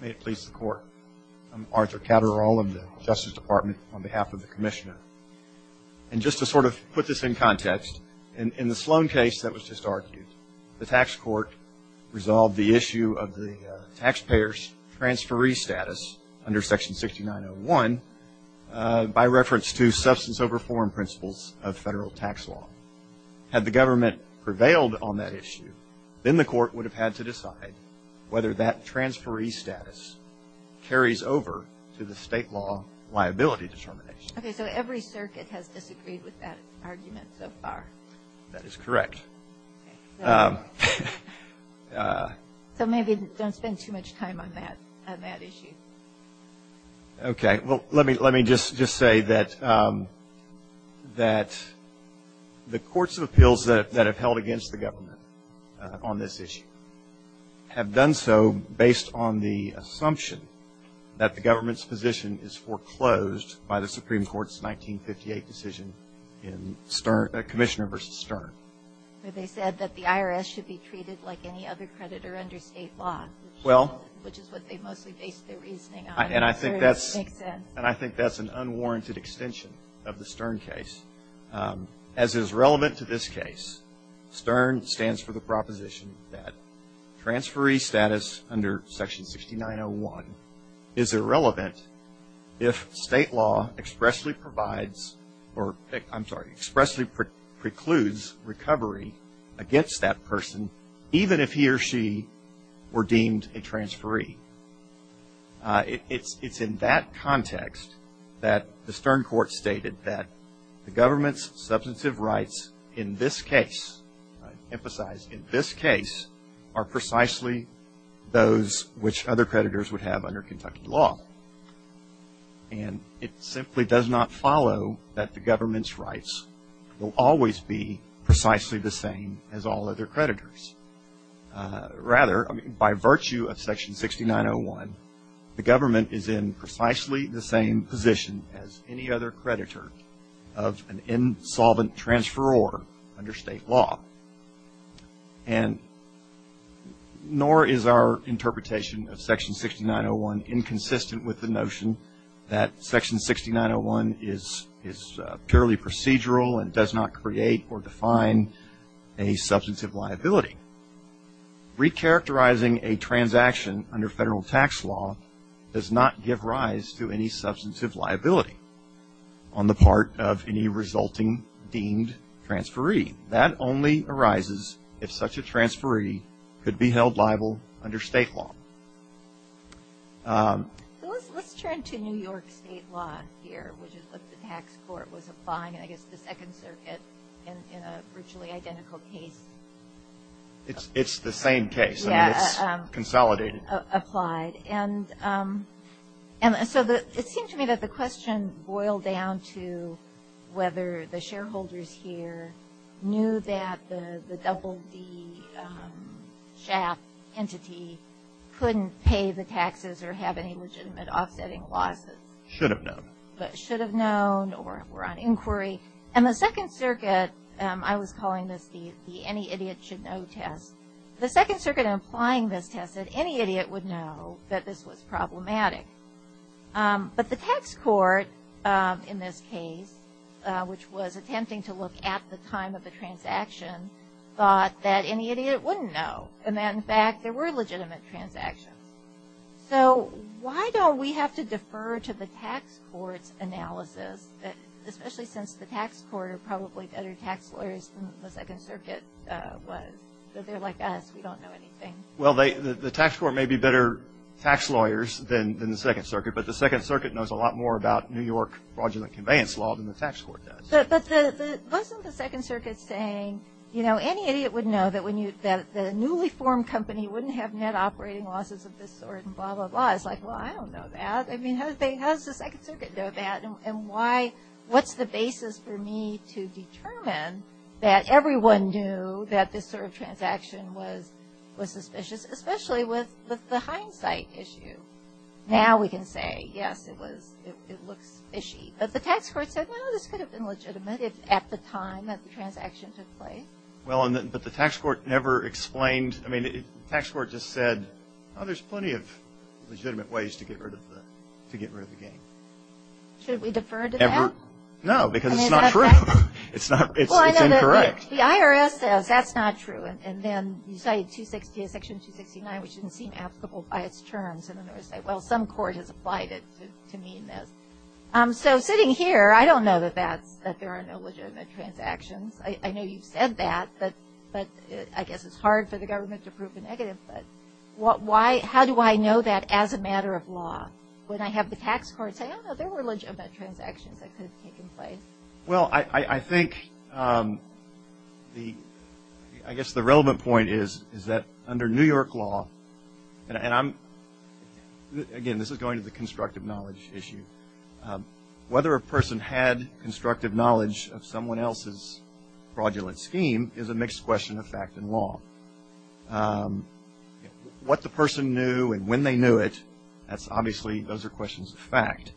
May it please the court. I'm Arthur Catterall of the Justice Department on behalf of the Commissioner. And just to sort of put this in context, in the Sloan case that was just argued, the tax court resolved the issue of the taxpayer's transferee status under Section 6901 by reference to substance over form principles of federal tax law. Had the government prevailed on that issue, then the court would have had to decide whether that transferee status carries over to the state law liability determination. Okay, so every circuit has disagreed with that argument so far. That is correct. So maybe don't spend too much time on that issue. Okay. Well, let me just say that the courts of appeals that have held against the government on this issue have done so based on the assumption that the government's position is foreclosed by the Supreme Court's 1958 decision in Commissioner v. Stern. They said that the IRS should be treated like any other And I think that's an unwarranted extension of the Stern case. As is relevant to this case, Stern stands for the proposition that transferee status under Section 6901 is irrelevant if state law expressly provides or, I'm sorry, expressly precludes recovery against that person even if he or she were deemed a transferee. It's in that context that the Stern court stated that the government's substantive rights in this case, I emphasize in this case, are precisely those which other creditors would have under Kentucky law. And it simply does not follow that the government's rights will always be precisely the same as all other creditors. Rather, by virtue of Section 6901, the government is in precisely the same position as any other creditor of an insolvent transferor under state law. And nor is our interpretation of Section 6901 inconsistent with the notion that Section 6901 is purely procedural and does not create or define a substantive liability. Recharacterizing a transaction under federal tax law does not give rise to any substantive liability on the part of any resulting deemed transferee. That only arises if such a transferee could be held liable under state law. So let's turn to New York state law here, which is what the tax court was applying in, I guess, the Second Circuit in a virtually identical case. It's the same case. I mean, it's consolidated. Applied. And so it seems to me that the question boiled down to whether the shareholders here knew that the SHAP entity couldn't pay the taxes or have any legitimate offsetting losses. Should have known. Should have known or were on inquiry. And the Second Circuit, I was calling this the any idiot should know test. The Second Circuit in applying this test said any idiot would know that this was problematic. But the tax court in this case, which was attempting to look at the time of the transaction, thought that any idiot wouldn't know. And that, in fact, there were legitimate transactions. So why don't we have to defer to the tax court's analysis, especially since the tax court are probably better tax lawyers than the Second Circuit was. They're like us. We don't know anything. Well, the tax court may be better tax lawyers than the Second Circuit, but the Second Circuit knows a lot more about New York fraudulent conveyance law than the tax court does. But wasn't the Second Circuit saying, you know, any idiot would know that the newly formed company wouldn't have net operating losses of this sort and blah, blah, blah. It's like, well, I don't know that. I mean, how does the Second Circuit know that? What's the basis for me to determine that everyone knew that this sort of transaction was suspicious, especially with the hindsight issue? Now we can say, yes, it looks fishy. But the tax court said, no, this could have been legitimate at the time that the transaction took place. Well, but the tax court never explained. I mean, the tax court just said, oh, there's plenty of legitimate ways to get rid of the game. Should we defer to that? No, because it's not true. It's incorrect. The IRS says that's not true. And then you cite Section 269, which doesn't seem applicable by its terms. And then they say, well, some court has applied it to mean this. So sitting here, I don't know that there are no legitimate transactions. I know you've said that, but I guess it's hard for the government to prove a negative. But how do I know that as a matter of law? When I have the tax court say, oh, no, there were legitimate transactions that could have taken place. Well, I think the – I guess the relevant point is that under New York law, and I'm – again, this is going to the constructive knowledge issue. Whether a person had constructive knowledge of someone else's fraudulent scheme is a mixed question of fact and law. What the person knew and when they knew it, that's obviously – those are questions of fact.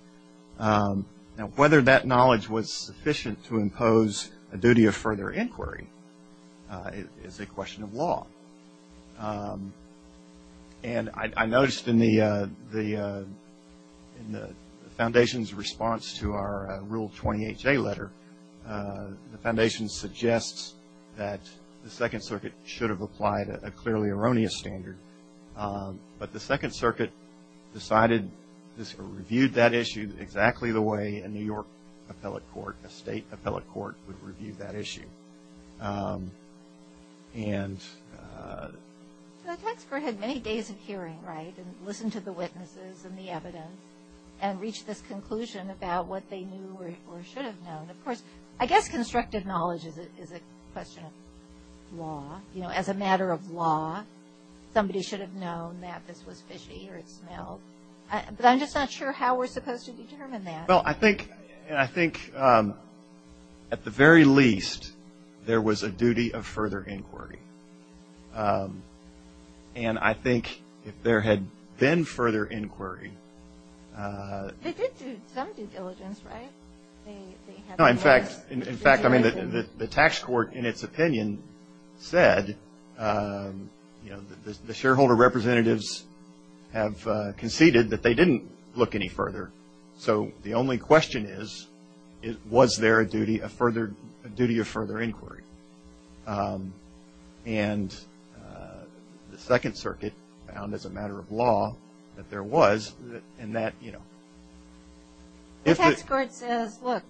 Now, whether that knowledge was sufficient to impose a duty of further inquiry is a question of law. And I noticed in the foundation's response to our Rule 28J letter, the foundation suggests that the Second Circuit should have applied a clearly erroneous standard. But the Second Circuit decided – reviewed that issue exactly the way a New York appellate court, a state appellate court would review that issue. And – The tax court had many days of hearing, right, and listened to the witnesses and the evidence and reached this conclusion about what they knew or should have known. Of course, I guess constructive knowledge is a question of law. You know, as a matter of law, somebody should have known that this was fishy or it smelled. But I'm just not sure how we're supposed to determine that. Well, I think – and I think at the very least, there was a duty of further inquiry. And I think if there had been further inquiry – They did do some due diligence, right? No, in fact, I mean, the tax court in its opinion said, you know, the shareholder representatives have conceded that they didn't look any further. So the only question is, was there a duty of further inquiry? And the Second Circuit found, as a matter of law, that there was, and that, you know – The tax court says, look,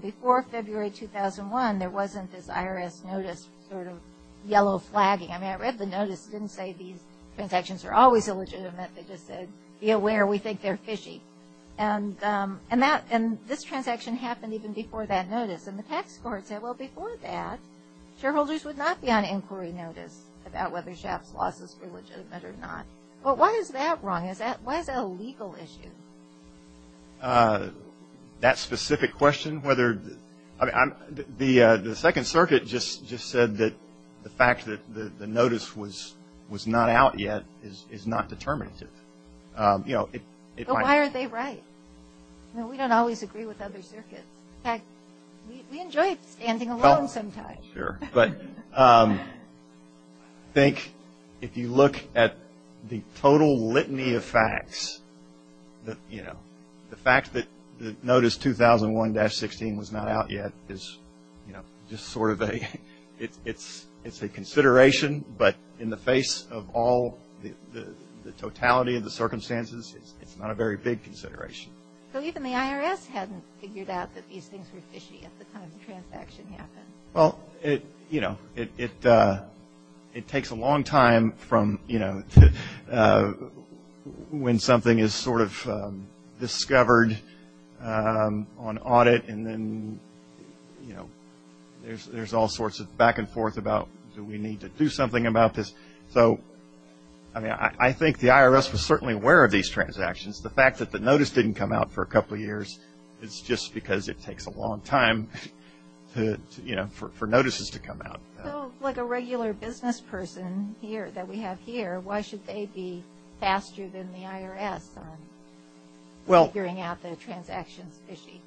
before February 2001, there wasn't this IRS notice sort of yellow flagging. I mean, I read the notice. It didn't say these transactions are always illegitimate. They just said, be aware, we think they're fishy. And that – and this transaction happened even before that notice. And the tax court said, well, before that, shareholders would not be on inquiry notice about whether Shaft's losses were legitimate or not. Well, why is that wrong? Why is that a legal issue? That specific question, whether – the Second Circuit just said that the fact that the notice was not out yet is not determinative. You know, it – But why aren't they right? You know, we don't always agree with other circuits. In fact, we enjoy standing alone sometimes. Sure. But I think if you look at the total litany of facts, you know, the fact that the notice 2001-16 was not out yet is, you know, just sort of a – it's a consideration. But in the face of all the totality of the circumstances, it's not a very big consideration. So even the IRS hadn't figured out that these things were fishy at the time the transaction happened. Well, you know, it takes a long time from, you know, when something is sort of discovered on audit, and then, you know, there's all sorts of back and forth about do we need to do something about this. So, I mean, I think the IRS was certainly aware of these transactions. The fact that the notice didn't come out for a couple of years is just because it takes a long time, you know, for notices to come out. Well, like a regular business person here that we have here, why should they be faster than the IRS on figuring out the transactions fishy?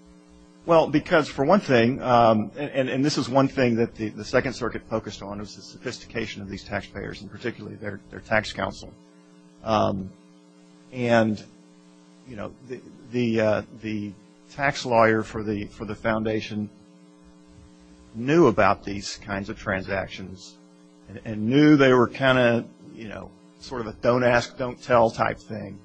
Well, because for one thing, and this is one thing that the Second Circuit focused on, was the sophistication of these taxpayers, and particularly their tax counsel. And, you know, the tax lawyer for the foundation knew about these kinds of transactions and knew they were kind of, you know, sort of a don't ask, don't tell type thing.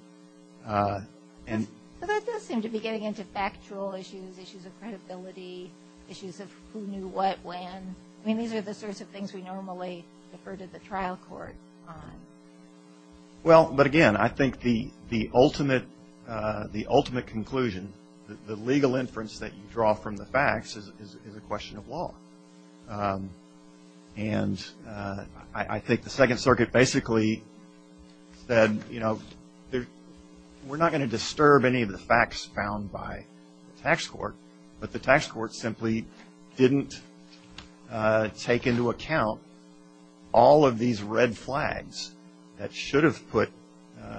But that does seem to be getting into factual issues, issues of credibility, issues of who knew what when. I mean, these are the sorts of things we normally defer to the trial court on. Well, but again, I think the ultimate conclusion, the legal inference that you draw from the facts, is a question of law. And I think the Second Circuit basically said, you know, we're not going to disturb any of the facts found by the tax court, but the tax court simply didn't take into account all of these red flags that should have put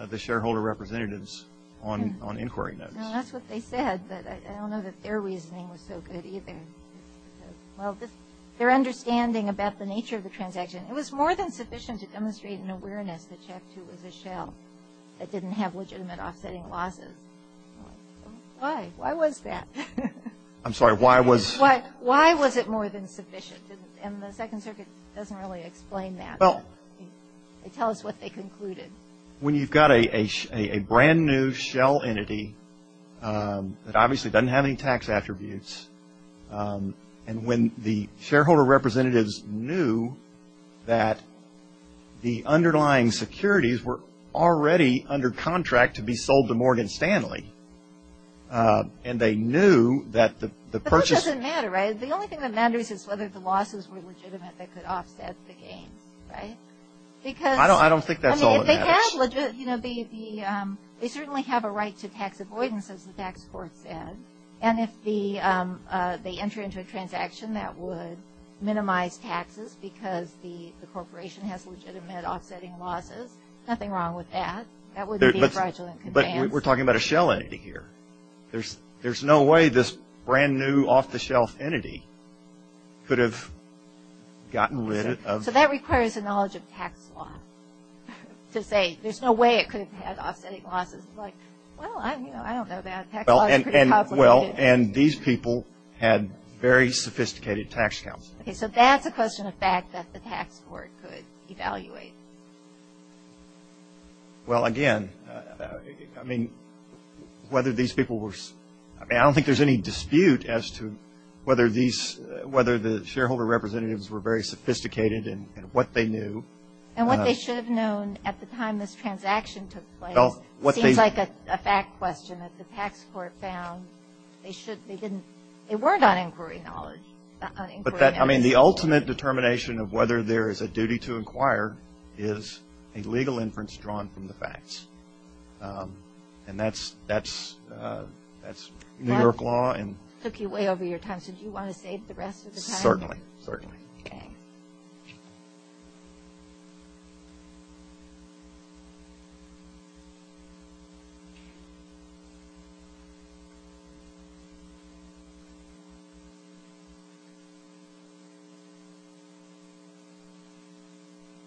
the shareholder representatives on inquiry notes. Now, that's what they said, but I don't know that their reasoning was so good either. Well, their understanding about the nature of the transaction, it was more than sufficient to demonstrate an awareness that Chapter 2 was a shell that didn't have legitimate offsetting losses. Why? Why was that? I'm sorry, why was? Why was it more than sufficient? And the Second Circuit doesn't really explain that. Tell us what they concluded. When you've got a brand new shell entity that obviously doesn't have any tax attributes, and when the shareholder representatives knew that the underlying securities were already under contract to be sold to Morgan Stanley, and they knew that the purchase. But that doesn't matter, right? The only thing that matters is whether the losses were legitimate that could offset the gains, right? Because. I don't think that's all that matters. They certainly have a right to tax avoidance, as the tax court said. And if they enter into a transaction that would minimize taxes because the corporation has legitimate offsetting losses, nothing wrong with that. That wouldn't be fraudulent. But we're talking about a shell entity here. There's no way this brand new off-the-shelf entity could have gotten rid of. So that requires a knowledge of tax law to say there's no way it could have had offsetting losses. Well, I don't know about that. Well, and these people had very sophisticated tax accounts. So that's a question of fact that the tax court could evaluate. Well, again, I mean, whether these people were... And what they should have known at the time this transaction took place seems like a fact question that the tax court found. They weren't on inquiry knowledge. I mean, the ultimate determination of whether there is a duty to inquire is a legal inference drawn from the facts. And that's New York law. That took you way over your time. So do you want to save the rest of the time? Certainly. Okay.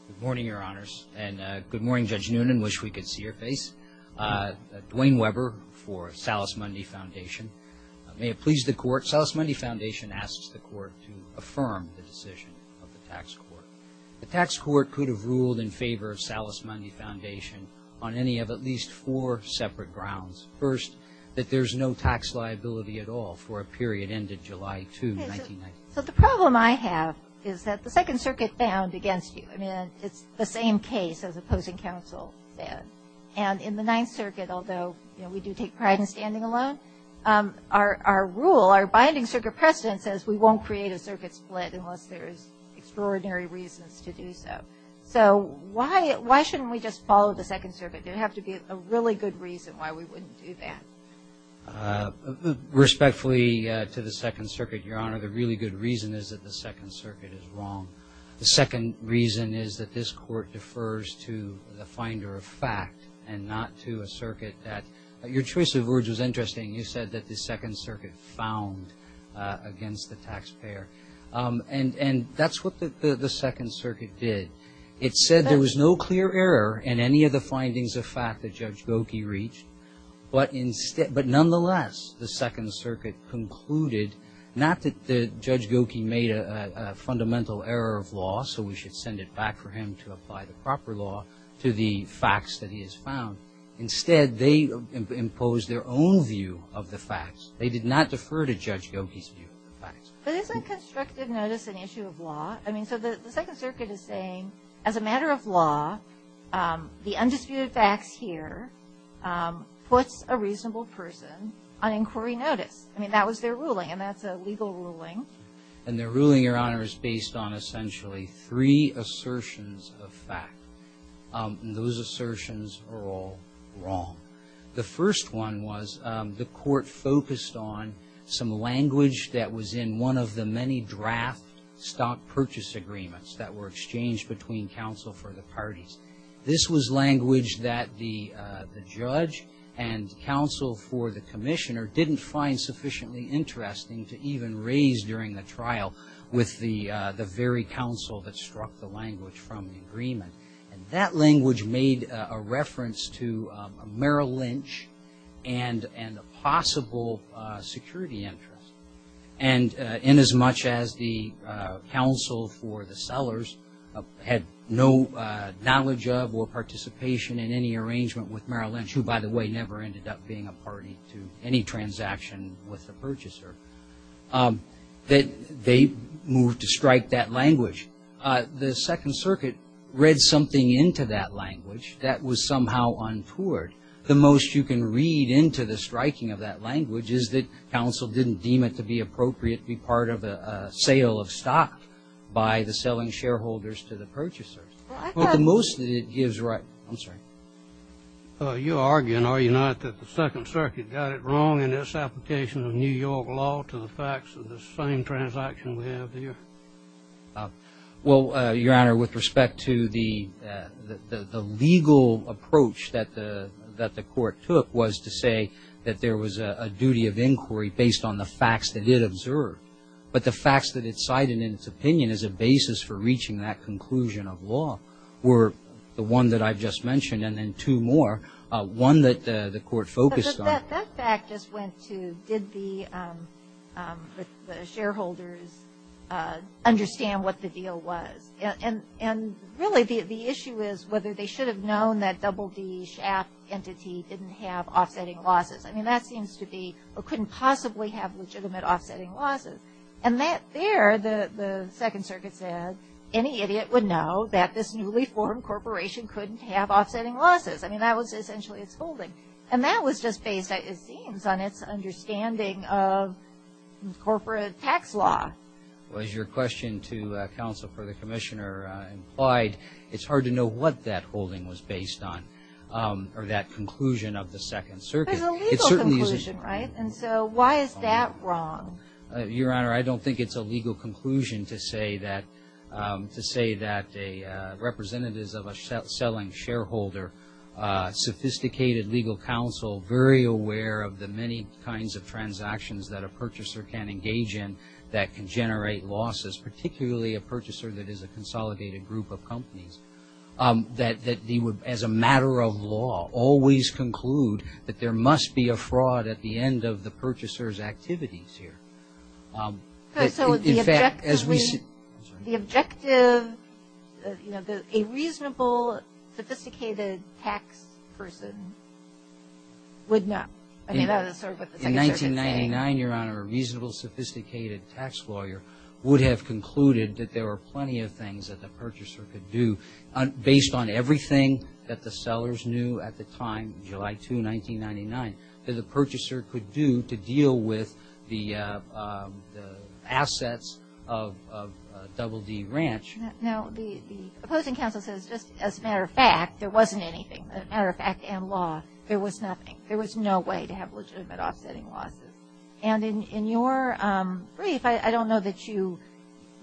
Good morning, Your Honors. And good morning, Judge Noonan. Wish we could see your face. Dwayne Weber for Salus Mundi Foundation. May it please the Court.... to affirm the decision of the tax court. The tax court could have ruled in favor of Salus Mundi Foundation on any of at least four separate grounds. First, that there's no tax liability at all for a period ended July 2, 1990. So the problem I have is that the Second Circuit bound against you. I mean, it's the same case as opposing counsel said. And in the Ninth Circuit, although we do take pride in standing alone, our rule, our binding circuit precedent says we won't create a circuit split unless there's extraordinary reasons to do so. So why shouldn't we just follow the Second Circuit? There would have to be a really good reason why we wouldn't do that. Respectfully to the Second Circuit, Your Honor, the really good reason is that the Second Circuit is wrong. The second reason is that this Court defers to the finder of fact and not to a circuit that... You said that the Second Circuit found against the taxpayer. And that's what the Second Circuit did. It said there was no clear error in any of the findings of fact that Judge Goki reached. But nonetheless, the Second Circuit concluded not that Judge Goki made a fundamental error of law, so we should send it back for him to apply the proper law to the facts that he has found. Instead, they imposed their own view of the facts. They did not defer to Judge Goki's view of the facts. But isn't constructive notice an issue of law? I mean, so the Second Circuit is saying as a matter of law, the undisputed facts here puts a reasonable person on inquiry notice. I mean, that was their ruling, and that's a legal ruling. And their ruling, Your Honor, is based on essentially three assertions of fact. And those assertions are all wrong. The first one was the Court focused on some language that was in one of the many draft stock purchase agreements that were exchanged between counsel for the parties. This was language that the judge and counsel for the commissioner didn't find sufficiently interesting to even raise during the trial with the very counsel that struck the language from the agreement. And that language made a reference to Merrill Lynch and a possible security interest. And inasmuch as the counsel for the sellers had no knowledge of or participation in any arrangement with Merrill Lynch, who, by the way, never ended up being a party to any transaction with the purchaser, that they moved to strike that language. The Second Circuit read something into that language that was somehow untoward. The most you can read into the striking of that language is that counsel didn't deem it to be appropriate to be part of a sale of stock by the selling shareholders to the purchasers. But the most that it gives right. I'm sorry. You're arguing, are you not, that the Second Circuit got it wrong in its application of New York law to the facts of the same transaction we have here? Well, Your Honor, with respect to the legal approach that the Court took was to say that there was a duty of inquiry based on the facts that it observed. But the facts that it cited in its opinion as a basis for reaching that conclusion of law were the one that I've just mentioned and then two more. One that the Court focused on. But that fact just went to did the shareholders understand what the deal was? And really the issue is whether they should have known that double D SHAP entity didn't have offsetting losses. I mean, that seems to be or couldn't possibly have legitimate offsetting losses. And there the Second Circuit said any idiot would know that this newly formed corporation couldn't have offsetting losses. I mean, that was essentially its holding. And that was just based, it seems, on its understanding of corporate tax law. Well, as your question to counsel for the Commissioner implied, it's hard to know what that holding was based on or that conclusion of the Second Circuit. But it's a legal conclusion, right? And so why is that wrong? Your Honor, I don't think it's a legal conclusion to say that representatives of a selling shareholder, sophisticated legal counsel, very aware of the many kinds of transactions that a purchaser can engage in that can generate losses, particularly a purchaser that is a consolidated group of companies, that as a matter of law always conclude that there must be a fraud at the end of the purchaser's activities here. So the objective, you know, a reasonable, sophisticated tax person would not. I mean, that's sort of what the Second Circuit is saying. In 1999, Your Honor, a reasonable, sophisticated tax lawyer would have concluded that there were plenty of things that the purchaser could do, based on everything that the sellers knew at the time, July 2, 1999, that the purchaser could do to deal with the assets of Double D Ranch. Now, the opposing counsel says, just as a matter of fact, there wasn't anything. As a matter of fact and law, there was nothing. There was no way to have legitimate offsetting losses. And in your brief, I don't know that you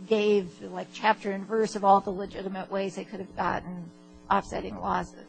gave, like, chapter and verse of all the legitimate ways they could have gotten offsetting losses.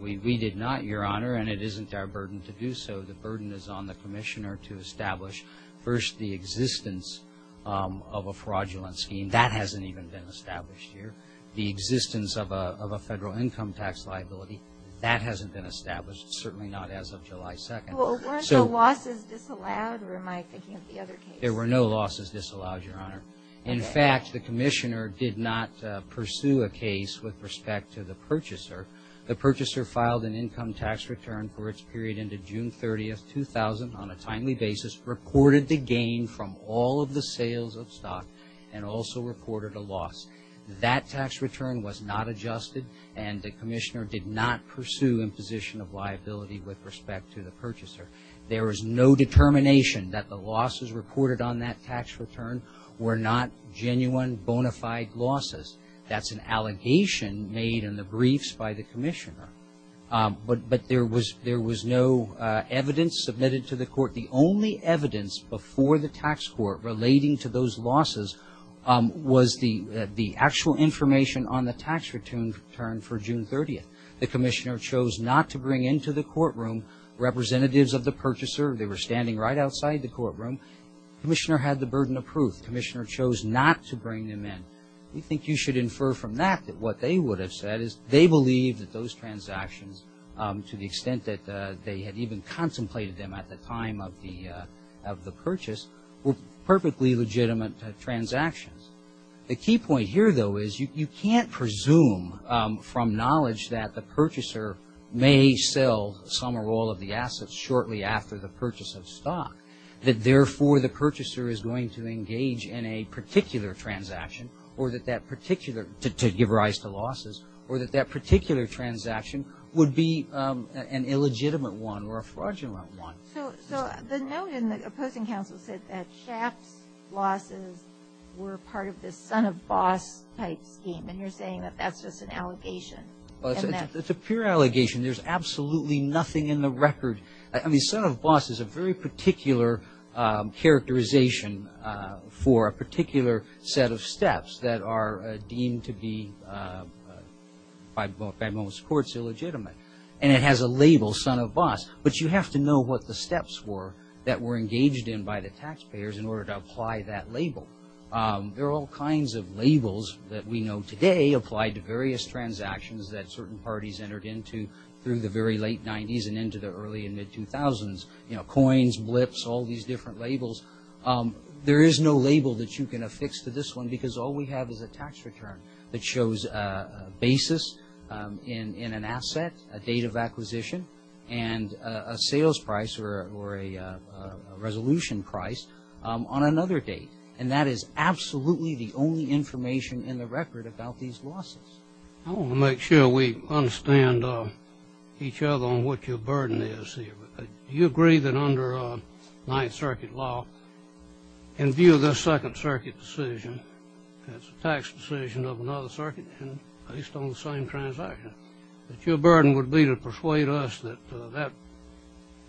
We did not, Your Honor, and it isn't our burden to do so. The burden is on the commissioner to establish, first, the existence of a fraudulent scheme. That hasn't even been established here. The existence of a federal income tax liability, that hasn't been established, certainly not as of July 2. Well, weren't the losses disallowed, or am I thinking of the other case? There were no losses disallowed, Your Honor. In fact, the commissioner did not pursue a case with respect to the purchaser. The purchaser filed an income tax return for its period into June 30, 2000, on a timely basis, reported the gain from all of the sales of stock, and also reported a loss. That tax return was not adjusted, and the commissioner did not pursue imposition of liability with respect to the purchaser. There is no determination that the losses reported on that tax return were not genuine, bona fide losses. That's an allegation made in the briefs by the commissioner. But there was no evidence submitted to the court. The only evidence before the tax court relating to those losses was the actual information on the tax return for June 30. The commissioner chose not to bring into the courtroom representatives of the purchaser. They were standing right outside the courtroom. The commissioner had the burden of proof. The commissioner chose not to bring them in. We think you should infer from that that what they would have said is they believed that those transactions, to the extent that they had even contemplated them at the time of the purchase, were perfectly legitimate transactions. The key point here, though, is you can't presume from knowledge that the purchaser may sell some or all of the assets shortly after the purchase of stock, that therefore the purchaser is going to engage in a particular transaction to give rise to losses, or that that particular transaction would be an illegitimate one or a fraudulent one. So the note in the opposing counsel said that Schaaf's losses were part of this son-of-boss type scheme, and you're saying that that's just an allegation. It's a pure allegation. There's absolutely nothing in the record. I mean, son-of-boss is a very particular characterization for a particular set of steps that are deemed to be, by most courts, illegitimate. And it has a label, son-of-boss, but you have to know what the steps were that were engaged in by the taxpayers in order to apply that label. There are all kinds of labels that we know today applied to various transactions that certain parties entered into through the very late 90s and into the early and mid-2000s, you know, coins, blips, all these different labels. There is no label that you can affix to this one, because all we have is a tax return that shows a basis in an asset, a date of acquisition, and a sales price or a resolution price on another date. And that is absolutely the only information in the record about these losses. I want to make sure we understand each other on what your burden is here. Do you agree that under Ninth Circuit law, in view of the Second Circuit decision, that's a tax decision of another circuit based on the same transaction, that your burden would be to persuade us that that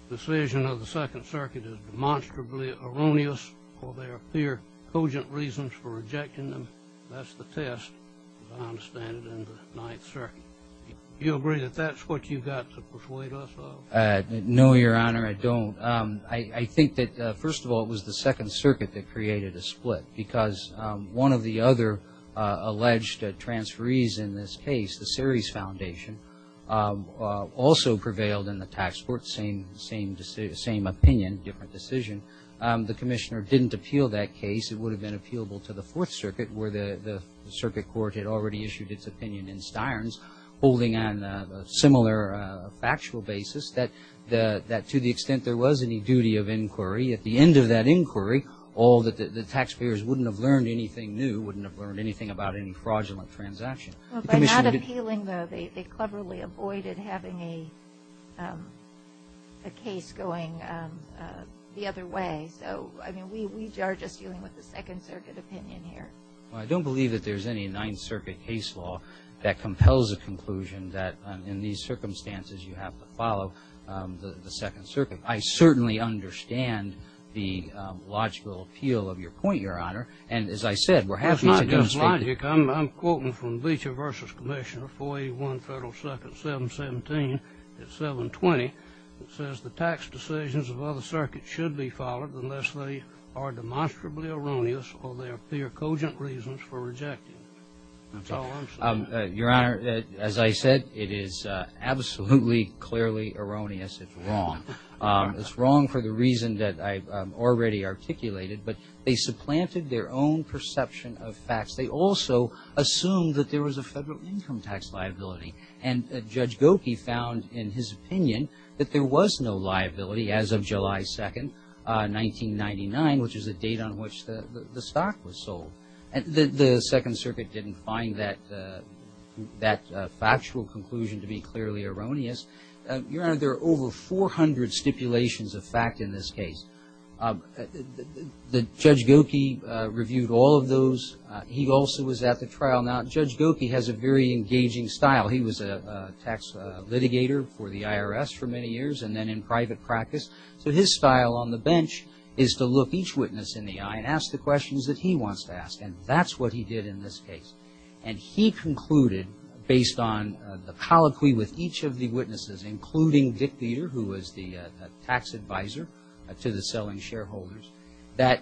decision of the Second Circuit is demonstrably erroneous or there appear cogent reasons for rejecting them? That's the test, as I understand it, in the Ninth Circuit. Do you agree that that's what you've got to persuade us of? No, Your Honor, I don't. I think that, first of all, it was the Second Circuit that created a split, because one of the other alleged transferees in this case, the Series Foundation, also prevailed in the tax court, same opinion, different decision. The Commissioner didn't appeal that case. It would have been appealable to the Fourth Circuit, where the Circuit Court had already issued its opinion in Steirns, holding on a similar factual basis, that to the extent there was any duty of inquiry, at the end of that inquiry the taxpayers wouldn't have learned anything new, wouldn't have learned anything about any fraudulent transaction. By not appealing, though, they cleverly avoided having a case going the other way. So, I mean, we are just dealing with the Second Circuit opinion here. Well, I don't believe that there's any Ninth Circuit case law that compels a conclusion that in these circumstances you have to follow the Second Circuit. I certainly understand the logical appeal of your point, Your Honor. And, as I said, we're happy to demonstrate it. It's not just logic. I'm quoting from Leacher v. Commissioner, 481 Federal 2nd, 717 at 720. It says, The tax decisions of other circuits should be followed unless they are demonstrably erroneous or there appear cogent reasons for rejecting. That's all I'm saying. Your Honor, as I said, it is absolutely, clearly erroneous. It's wrong. It's wrong for the reason that I've already articulated. But they supplanted their own perception of facts. They also assumed that there was a federal income tax liability. And Judge Gokey found in his opinion that there was no liability as of July 2nd, 1999, which is the date on which the stock was sold. The Second Circuit didn't find that factual conclusion to be clearly erroneous. Your Honor, there are over 400 stipulations of fact in this case. Judge Gokey reviewed all of those. He also was at the trial. Now, Judge Gokey has a very engaging style. He was a tax litigator for the IRS for many years and then in private practice. So his style on the bench is to look each witness in the eye and ask the questions that he wants to ask. And that's what he did in this case. And he concluded, based on the colloquy with each of the witnesses, including Dick Dieter, who was the tax advisor to the selling shareholders, that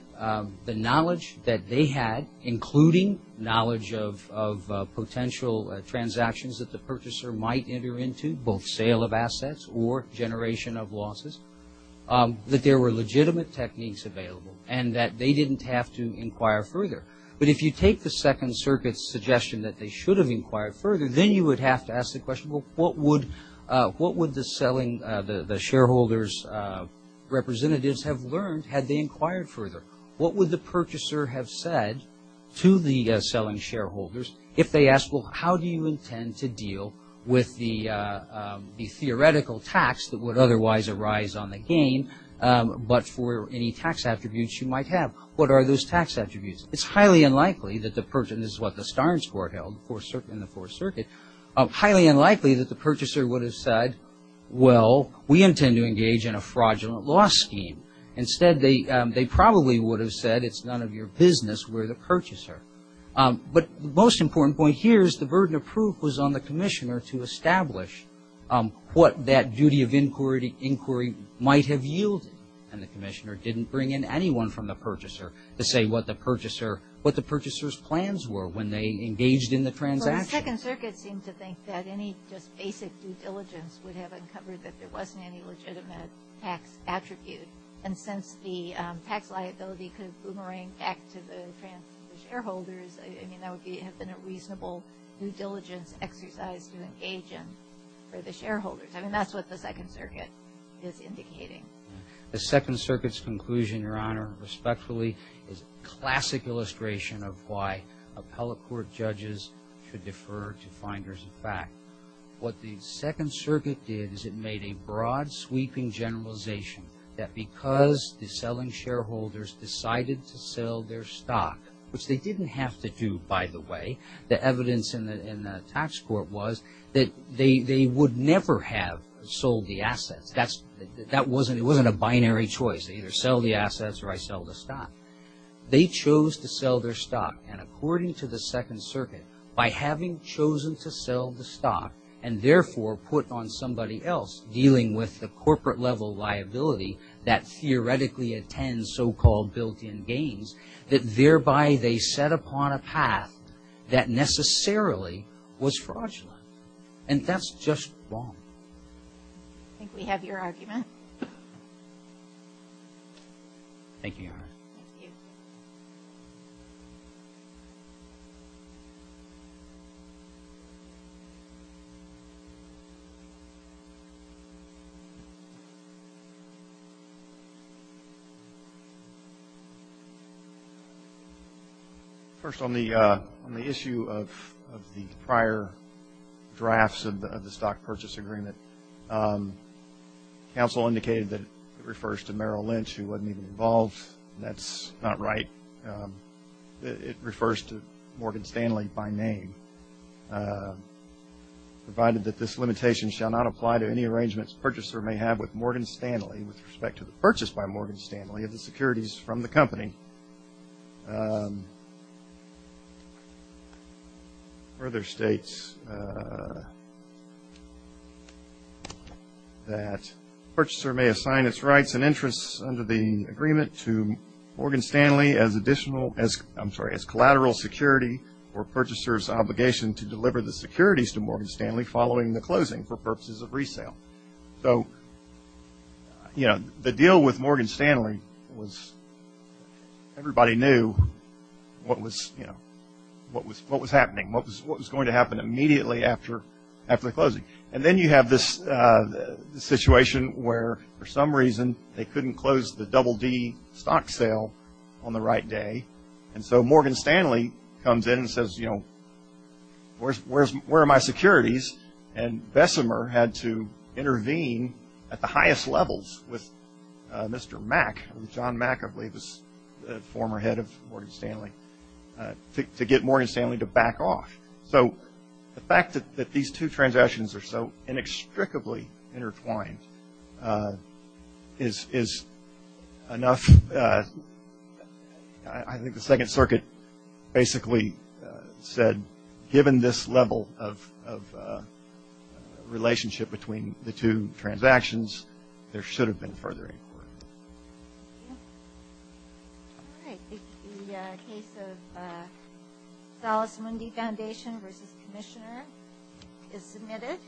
the knowledge that they had, including knowledge of potential transactions that the purchaser might enter into, both sale of assets or generation of losses, that there were legitimate techniques available and that they didn't have to inquire further. But if you take the Second Circuit's suggestion that they should have inquired further, then you would have to ask the question, well, what would the selling, the shareholders' representatives have learned had they inquired further? What would the purchaser have said to the selling shareholders if they asked, well, how do you intend to deal with the theoretical tax that would otherwise arise on the gain, but for any tax attributes you might have? What are those tax attributes? It's highly unlikely that the person, this is what the Starnes Court held in the Fourth Circuit, highly unlikely that the purchaser would have said, well, we intend to engage in a fraudulent loss scheme. Instead, they probably would have said it's none of your business, we're the purchaser. But the most important point here is the burden of proof was on the Commissioner to establish what that duty of inquiry might have yielded. And the Commissioner didn't bring in anyone from the purchaser to say what the purchaser, what the purchaser's plans were when they engaged in the transaction. The Second Circuit seemed to think that any just basic due diligence would have uncovered that there wasn't any legitimate tax attribute. And since the tax liability could have boomeranged back to the shareholders, I mean, that would have been a reasonable due diligence exercise to engage in for the shareholders. I mean, that's what the Second Circuit is indicating. The Second Circuit's conclusion, Your Honor, respectfully, is a classic illustration of why appellate court judges should defer to finders of fact. What the Second Circuit did is it made a broad, sweeping generalization that because the selling shareholders decided to sell their stock, which they didn't have to do, by the way, the evidence in the tax court was that they would never have sold the assets. That wasn't a binary choice. They either sell the assets or I sell the stock. They chose to sell their stock. And according to the Second Circuit, by having chosen to sell the stock and therefore put on somebody else dealing with the corporate-level liability that theoretically attends so-called built-in gains, that thereby they set upon a path that necessarily was fraudulent. And that's just wrong. I think we have your argument. Thank you, Your Honor. Thank you. Thank you. First, on the issue of the prior drafts of the stock purchase agreement, counsel indicated that it refers to Merrill Lynch, who wasn't even involved. That's not right. It refers to Morgan Stanley by name, provided that this limitation shall not apply to any arrangements the purchaser may have with Morgan Stanley with respect to the purchase by Morgan Stanley of the securities from the company. Further states that purchaser may assign its rights and interests under the agreement to Morgan Stanley as additional, I'm sorry, as collateral security for purchaser's obligation to deliver the securities to Morgan Stanley following the closing for purposes of resale. So, you know, the deal with Morgan Stanley was everybody knew what was, you know, what was happening, what was going to happen immediately after the closing. And then you have this situation where, for some reason, they couldn't close the double-D stock sale on the right day. And so Morgan Stanley comes in and says, you know, where are my securities? And Bessemer had to intervene at the highest levels with Mr. Mack, John Mack, I believe, the former head of Morgan Stanley, to get Morgan Stanley to back off. So the fact that these two transactions are so inextricably intertwined is enough. I think the Second Circuit basically said given this level of relationship between the two transactions, there should have been further inquiry. Thank you. All right. The case of Salas Mundy Foundation versus Commissioner is submitted.